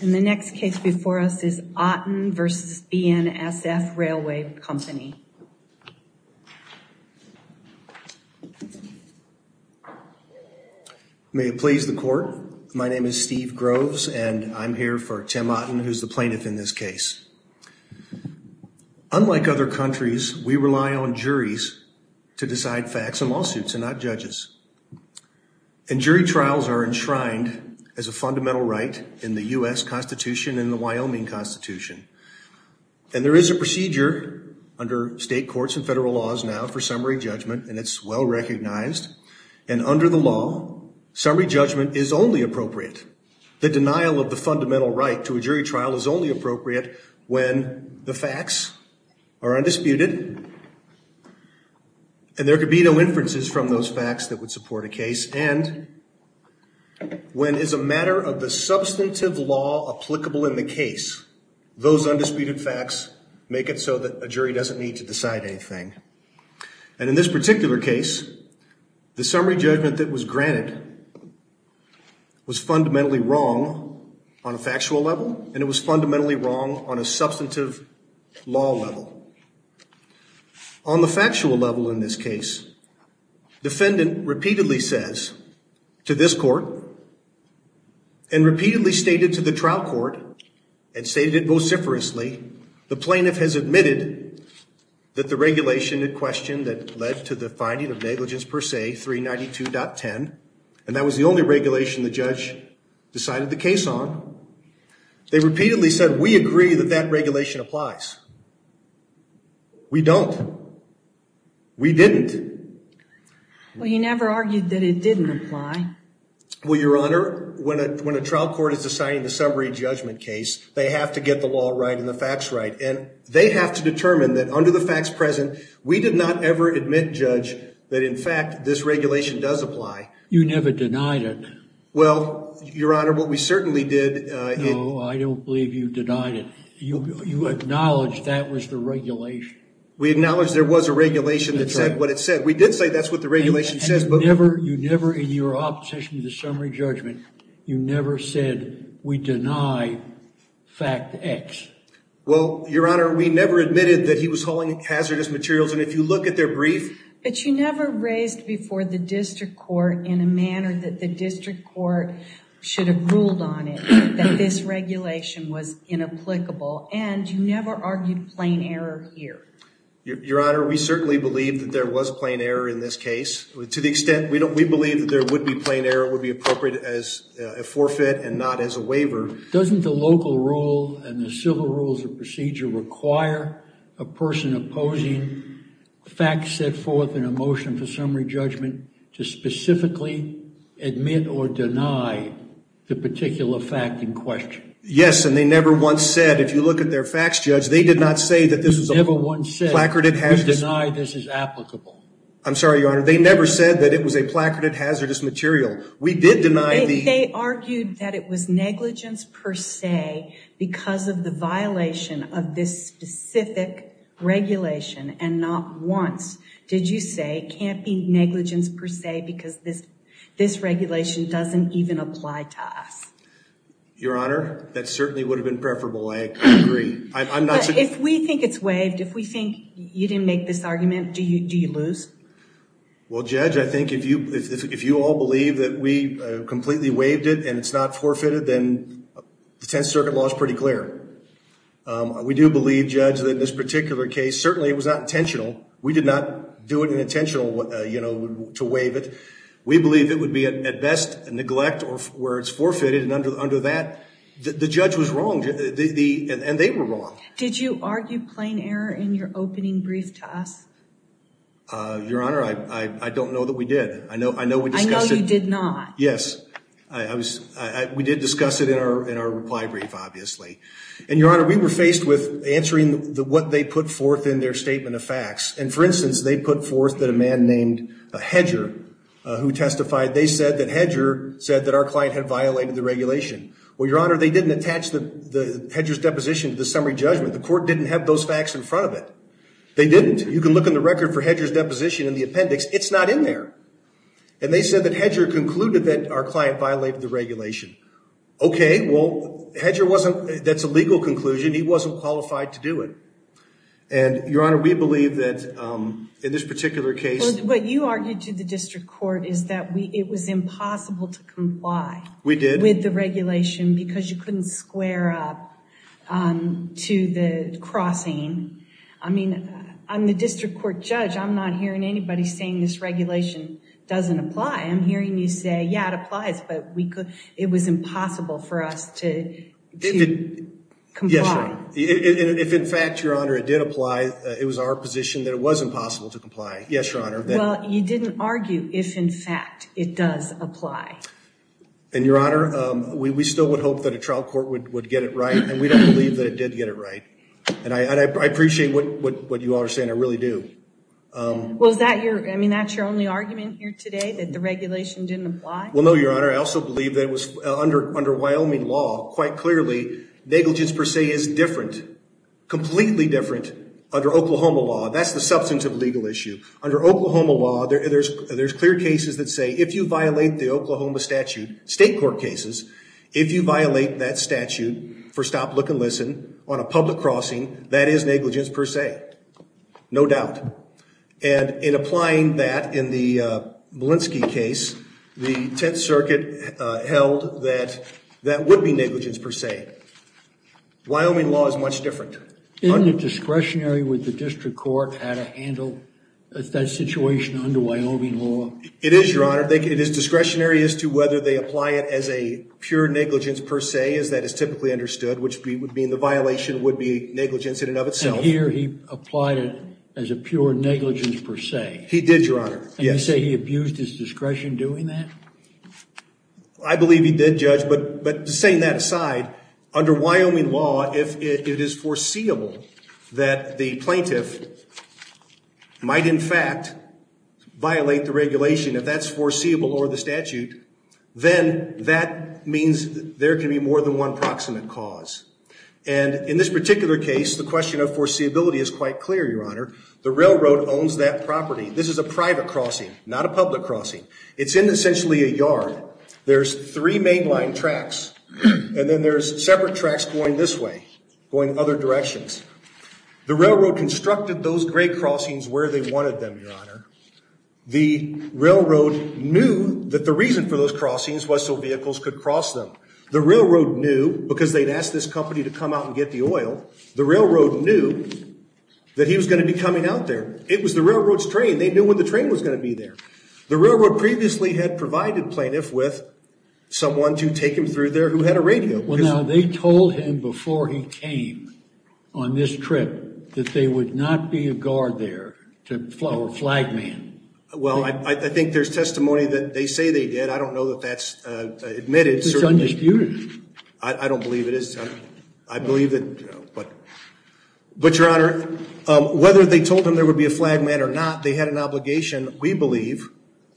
And the next case before us is Otten v. BNSF Railway Company. May it please the court. My name is Steve Groves and I'm here for Tim Otten, who's the plaintiff in this case. Unlike other countries, we rely on juries to decide facts and lawsuits and not judges. And jury trials are enshrined as a fundamental right in the U.S. Constitution and the Wyoming Constitution. And there is a procedure under state courts and federal laws now for summary judgment, and it's well recognized. And under the law, summary judgment is only appropriate. The denial of the fundamental right to a jury trial is only appropriate when the facts are undisputed. And there could be no inferences from those facts that would support a case. And when it's a matter of the substantive law applicable in the case, those undisputed facts make it so that a jury doesn't need to decide anything. And in this particular case, the summary judgment that was granted was fundamentally wrong on a factual level, and it was fundamentally wrong on a substantive law level. On the factual level in this case, defendant repeatedly says to this court and repeatedly stated to the trial court and stated it vociferously, the plaintiff has admitted that the regulation in question that led to the finding of negligence per se, 392.10, and that was the only regulation the judge decided the case on. They repeatedly said, we agree that that regulation applies. We don't. We didn't. Well, you never argued that it didn't apply. Well, Your Honor, when a trial court is deciding the summary judgment case, they have to get the law right and the facts right. And they have to determine that under the facts present, we did not ever admit, Judge, that in fact, this regulation does apply. You never denied it. Well, Your Honor, what we certainly did... No, I don't believe you denied it. You acknowledged that was the regulation. We acknowledged there was a regulation that said what it said. We did say that's what the regulation says, but... And you never, in your opposition to the summary judgment, you never said, we deny fact X. Well, Your Honor, we never admitted that he was hauling hazardous materials. And if you look at their brief... But you never raised before the district court in a manner that the district court should have ruled on it, that this regulation was inapplicable. And you never argued plain error here. Your Honor, we certainly believe that there was plain error in this case. To the extent, we believe that there would be plain error would be appropriate as a forfeit and not as a waiver. Doesn't the local rule and the civil rules of procedure require a person opposing facts set forth in a motion for summary judgment to specifically admit or deny the particular fact in question? Yes, and they never once said, if you look at their facts, Judge, they did not say that this was a... You never once said... Placarded hazardous... We deny this is applicable. I'm sorry, Your Honor. They never said that it was a placarded hazardous material. We did deny the... If they argued that it was negligence per se because of the violation of this specific regulation and not once did you say, can't be negligence per se because this regulation doesn't even apply to us? Your Honor, that certainly would have been preferable. I agree. I'm not... If we think it's waived, if we think you didn't make this argument, do you lose? Well, Judge, I think if you all believe that we completely waived it and it's not forfeited, then the Tenth Circuit law is pretty clear. We do believe, Judge, that this particular case, certainly it was not intentional. We did not do it intentionally, you know, to waive it. We believe it would be, at best, a neglect where it's forfeited and under that, the judge was wrong and they were wrong. Did you argue plain error in your opening brief to us? Your Honor, I don't know that we did. I know we discussed it... I know you did not. Yes. I was... We did discuss it in our reply brief, obviously. And, Your Honor, we were faced with answering what they put forth in their statement of facts. And, for instance, they put forth that a man named Hedger who testified, they said that Hedger said that our client had violated the regulation. Well, Your Honor, they didn't attach the Hedger's deposition to the summary judgment. The court didn't have those facts in front of it. They didn't. You can look in the record for Hedger's deposition in the appendix. It's not in there. And they said that Hedger concluded that our client violated the regulation. Okay, well, Hedger wasn't... That's a legal conclusion. He wasn't qualified to do it. And, Your Honor, we believe that in this particular case... What you argued to the district court is that it was impossible to comply... We did. ...with the regulation because you couldn't square up to the crossing. I mean, I'm the district court judge. I'm not hearing anybody saying this regulation doesn't apply. I'm hearing you say, yeah, it applies, but it was impossible for us to comply. Yes, Your Honor. If, in fact, Your Honor, it did apply, it was our position that it was impossible to comply. Yes, Your Honor. Well, you didn't argue if, in fact, it does apply. And, Your Honor, we still would hope that a trial court would get it right, and we don't believe that it did get it right. And I appreciate what you all are saying. I really do. Well, is that your... I mean, that's your only argument here today, that the regulation didn't apply? Well, no, Your Honor. I also believe that under Wyoming law, quite clearly, negligence per se is different, completely different under Oklahoma law. That's the substantive legal issue. Under Oklahoma law, there's clear cases that say if you violate the Oklahoma statute, state court cases, if you violate that statute for stop, look, and listen on a public crossing, that is negligence per se. No doubt. And in applying that in the Molenski case, the Tenth Circuit held that that would be negligence per se. Wyoming law is much different. Isn't it discretionary with the district court how to handle that situation under Wyoming law? It is, Your Honor. It is discretionary as to whether they apply it as a pure negligence per se, as that is typically understood, which would mean the violation would be negligence in and of itself. And here he applied it as a pure negligence per se. He did, Your Honor, yes. And you say he abused his discretion doing that? I believe he did, Judge. But saying that aside, under Wyoming law, if it is foreseeable that the plaintiff might, in fact, violate the regulation, if that's foreseeable or the statute, then that means there can be more than one proximate cause. And in this particular case, the question of foreseeability is quite clear, Your Honor. The railroad owns that property. This is a private crossing, not a public crossing. It's in essentially a yard. There's three mainline tracks, and then there's separate tracks going this way, going other directions. The railroad constructed those gray crossings where they wanted them, Your Honor. The railroad knew that the reason for those crossings was so vehicles could cross them. The railroad knew because they'd asked this company to come out and get the oil. The railroad knew that he was going to be coming out there. It was the railroad's train. They knew when the train was going to be there. The railroad previously had provided plaintiff with someone to take him through there who had a radio. Well, now, they told him before he came on this trip that there would not be a guard there, a flag man. Well, I think there's testimony that they say they did. I don't know that that's admitted. It's undisputed. I don't believe it is. I believe that, you know, but Your Honor, whether they told him there would be a flag man or not, they had an obligation. We believe,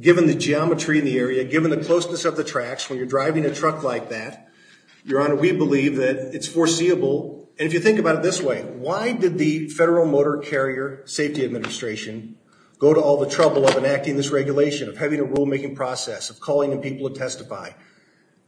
given the geometry in the area, given the closeness of the tracks, when you're driving a truck like that, Your Honor, we believe that it's foreseeable. And if you think about it this way, why did the Federal Motor Carrier Safety Administration go to all the trouble of enacting this regulation, of having a rulemaking process, of calling the people to testify?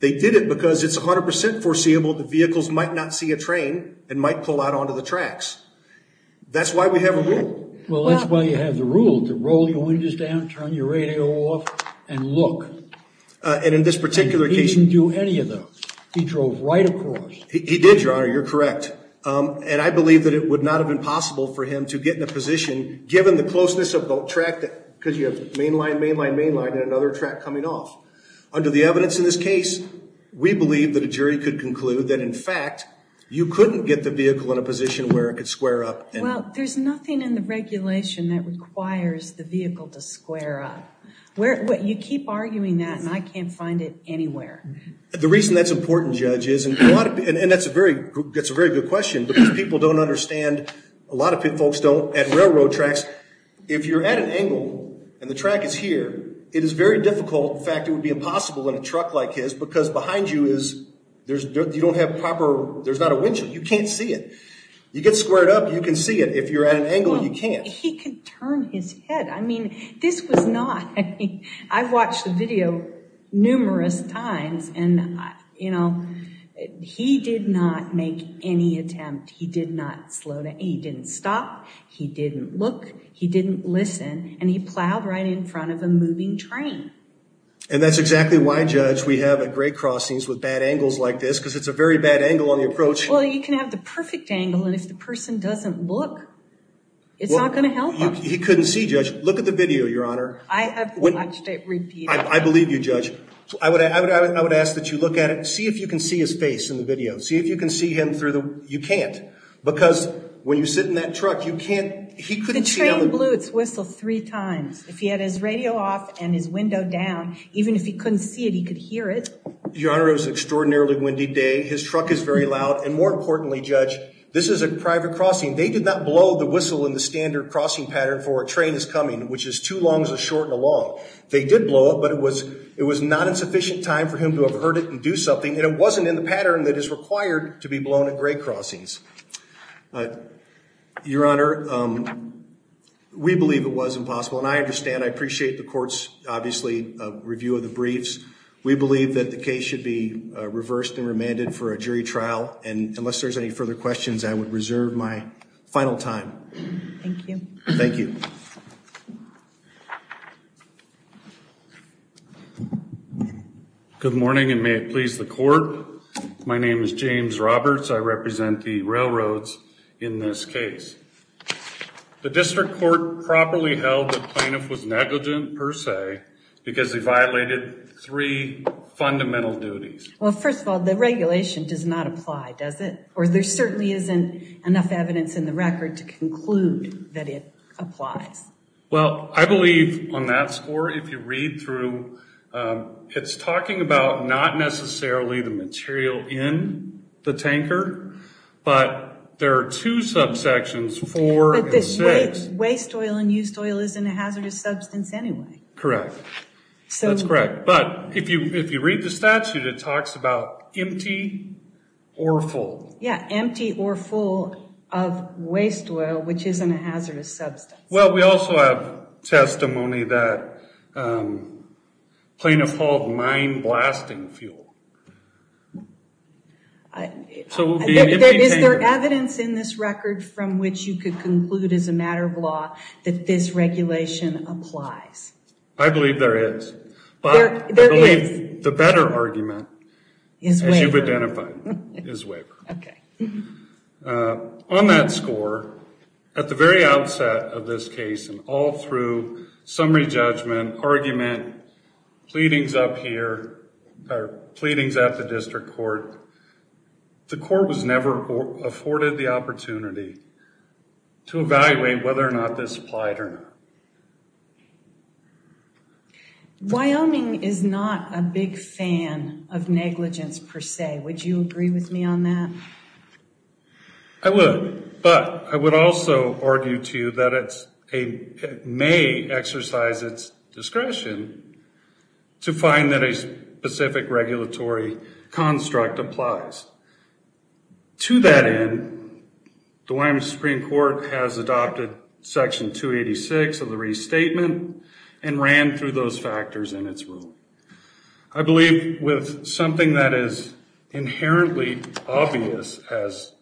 They did it because it's 100 percent foreseeable that vehicles might not see a train and might pull out onto the tracks. That's why we have a rule. Well, that's why you have the rule to roll your windows down, turn your radio off, and look. And in this particular case. He didn't do any of those. He drove right across. He did, Your Honor. You're correct. And I believe that it would not have been possible for him to get in a position, given the closeness of both tracks, because you have mainline, mainline, mainline, and another track coming off. Under the evidence in this case, we believe that a jury could conclude that, in fact, you couldn't get the vehicle in a position where it could square up. Well, there's nothing in the regulation that requires the vehicle to square up. You keep arguing that, and I can't find it anywhere. The reason that's important, Judge, is, and that's a very good question, because people don't understand, a lot of folks don't, at railroad tracks, if you're at an angle and the track is here, it is very difficult, in fact, it would be impossible in a truck like his because behind you is, you don't have proper, there's not a windshield. You can't see it. You get squared up, you can see it. If you're at an angle, you can't. He could turn his head. I mean, this was not, I mean, I've watched the video numerous times, and, you know, he did not make any attempt. He did not slow down. He didn't stop. He didn't look. He didn't listen. And he plowed right in front of a moving train. And that's exactly why, Judge, we have at grade crossings with bad angles like this, because it's a very bad angle on the approach. Well, you can have the perfect angle, and if the person doesn't look, it's not going to help them. He couldn't see, Judge. Look at the video, Your Honor. I have watched it repeatedly. I believe you, Judge. I would ask that you look at it. See if you can see his face in the video. See if you can see him through the, you can't. Because when you sit in that truck, you can't, he couldn't see. The train blew its whistle three times. If he had his radio off and his window down, even if he couldn't see it, he could hear it. Your Honor, it was an extraordinarily windy day. His truck is very loud. And more importantly, Judge, this is a private crossing. They did not blow the whistle in the standard crossing pattern for a train is coming, which is two longs, a short, and a long. They did blow it, but it was not a sufficient time for him to have heard it and do something, and it wasn't in the pattern that is required to be blown at grade crossings. Your Honor, we believe it was impossible, and I understand. I appreciate the court's, obviously, review of the briefs. We believe that the case should be reversed and remanded for a jury trial. And unless there's any further questions, I would reserve my final time. Thank you. Thank you. Good morning, and may it please the court. My name is James Roberts. I represent the railroads in this case. The district court properly held the plaintiff was negligent, per se, because he violated three fundamental duties. Well, first of all, the regulation does not apply, does it? Or there certainly isn't enough evidence in the record to conclude that it applies. Well, I believe on that score, if you read through, it's talking about not necessarily the material in the tanker, but there are two subsections, four and six. But the waste oil and used oil isn't a hazardous substance anyway. Correct. That's correct. But if you read the statute, it talks about empty or full. Yeah, empty or full of waste oil, which isn't a hazardous substance. Well, we also have testimony that plaintiff hauled mine blasting fuel. Is there evidence in this record from which you could conclude as a matter of law that this regulation applies? I believe there is. I believe the better argument, as you've identified, is waiver. On that score, at the very outset of this case and all through summary judgment, argument, pleadings up here, or pleadings at the district court, the court was never afforded the opportunity to evaluate whether or not this applied or not. Wyoming is not a big fan of negligence per se. Would you agree with me on that? I would. But I would also argue to you that it may exercise its discretion to find that a specific regulatory construct applies. To that end, the Wyoming Supreme Court has adopted section 286 of the restatement and ran through those factors in its rule. I believe with something that is inherently obvious as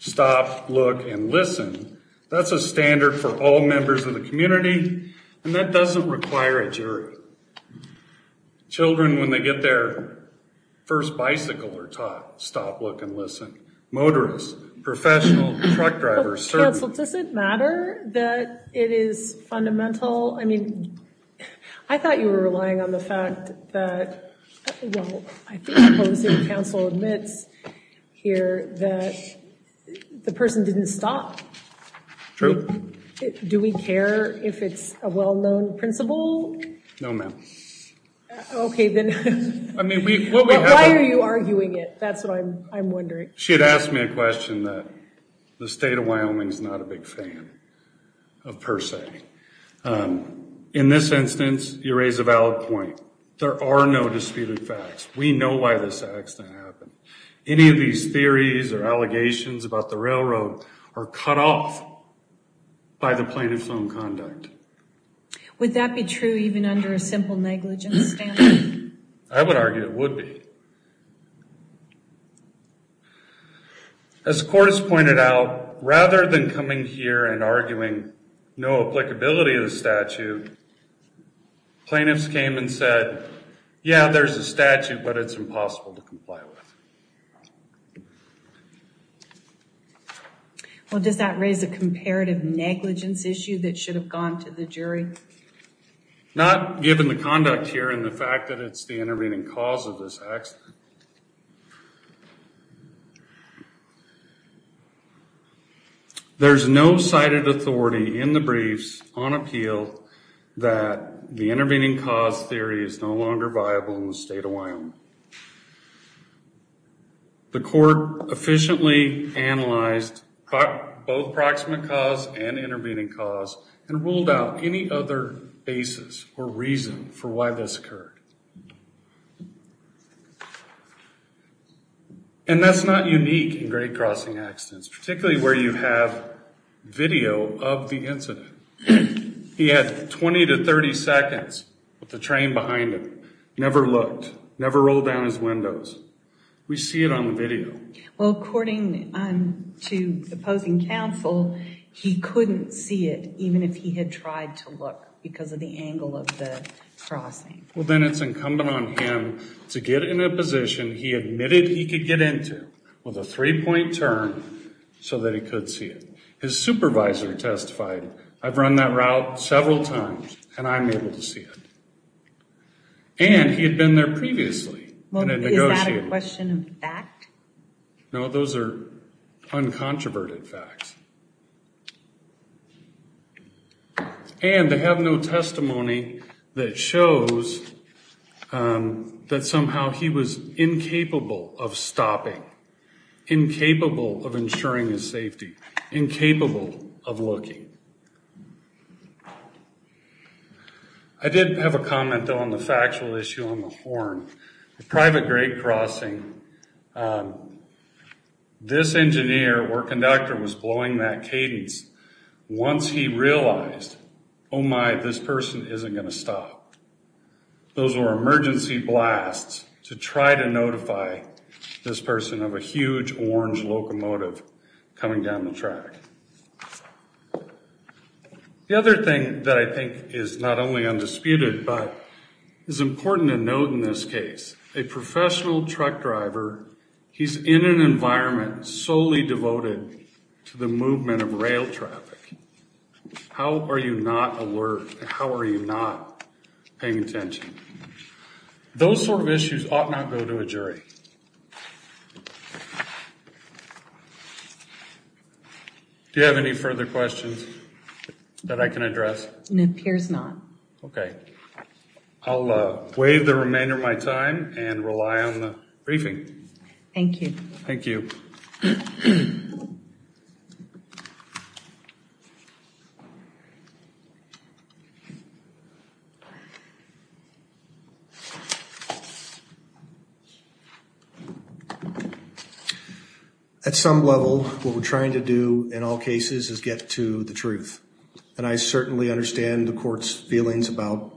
stop, look, and listen, that's a standard for all members of the community, and that doesn't require a jury. Children, when they get their first bicycle, are taught stop, look, and listen. Motorists, professionals, truck drivers. Counsel, does it matter that it is fundamental? Well, I mean, I thought you were relying on the fact that, well, I think the policy council admits here that the person didn't stop. True. Do we care if it's a well-known principle? No, ma'am. Okay, then. Why are you arguing it? That's what I'm wondering. She had asked me a question that the state of Wyoming is not a big fan of per se. In this instance, you raise a valid point. There are no disputed facts. We know why this accident happened. Any of these theories or allegations about the railroad are cut off by the plaintiff's own conduct. Would that be true even under a simple negligence standard? I would argue it would be. As the court has pointed out, rather than coming here and arguing no applicability of the statute, plaintiffs came and said, yeah, there's a statute, but it's impossible to comply with. Well, does that raise a comparative negligence issue that should have gone to the jury? Not given the conduct here and the fact that it's the intervening cause of this accident. There's no cited authority in the briefs on appeal that the intervening cause theory is no longer viable in the state of Wyoming. The court efficiently analyzed both proximate cause and intervening cause and ruled out any other basis or reason for why this occurred. And that's not unique in grade crossing accidents, particularly where you have video of the incident. He had 20 to 30 seconds with the train behind him. Never looked. Never rolled down his windows. We see it on the video. Well, according to the opposing counsel, he couldn't see it even if he had tried to look because of the angle of the crossing. Well, then it's incumbent on him to get in a position he admitted he could get into with a three-point turn so that he could see it. His supervisor testified, I've run that route several times and I'm able to see it. And he had been there previously when it negotiated. Is that a question of fact? No, those are uncontroverted facts. And to have no testimony that shows that somehow he was incapable of stopping, incapable of ensuring his safety, incapable of looking. I did have a comment, though, on the factual issue on the horn. The private grade crossing, this engineer or conductor was blowing that cadence once he realized, oh my, this person isn't going to stop. Those were emergency blasts to try to notify this person of a huge orange locomotive coming down the track. The other thing that I think is not only undisputed but is important to note in this case, a professional truck driver, he's in an environment solely devoted to the movement of rail traffic. How are you not alert? How are you not paying attention? Those sort of issues ought not go to a jury. Do you have any further questions that I can address? It appears not. Okay. I'll waive the remainder of my time and rely on the briefing. Thank you. Thank you. At some level, what we're trying to do in all cases is get to the truth. And I certainly understand the court's feelings about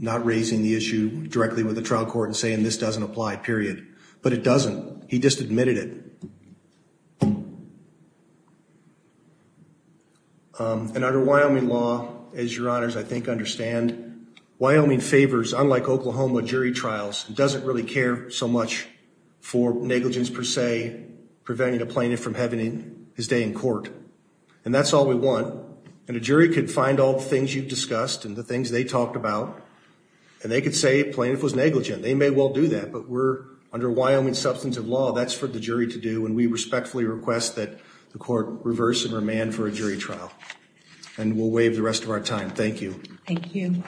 not raising the issue directly with the trial court and saying this doesn't apply, period. But it doesn't. He just admitted it. And under Wyoming law, as your honors, I think, understand, Wyoming favors, unlike Oklahoma, jury trials. It doesn't really care so much for negligence, per se, preventing a plaintiff from having his day in court. And that's all we want. And a jury could find all the things you've discussed and the things they talked about, and they could say a plaintiff was negligent. They may well do that. But under Wyoming substantive law, that's for the jury to do. And we respectfully request that the court reverse and remand for a jury trial. And we'll waive the rest of our time. Thank you. Thank you.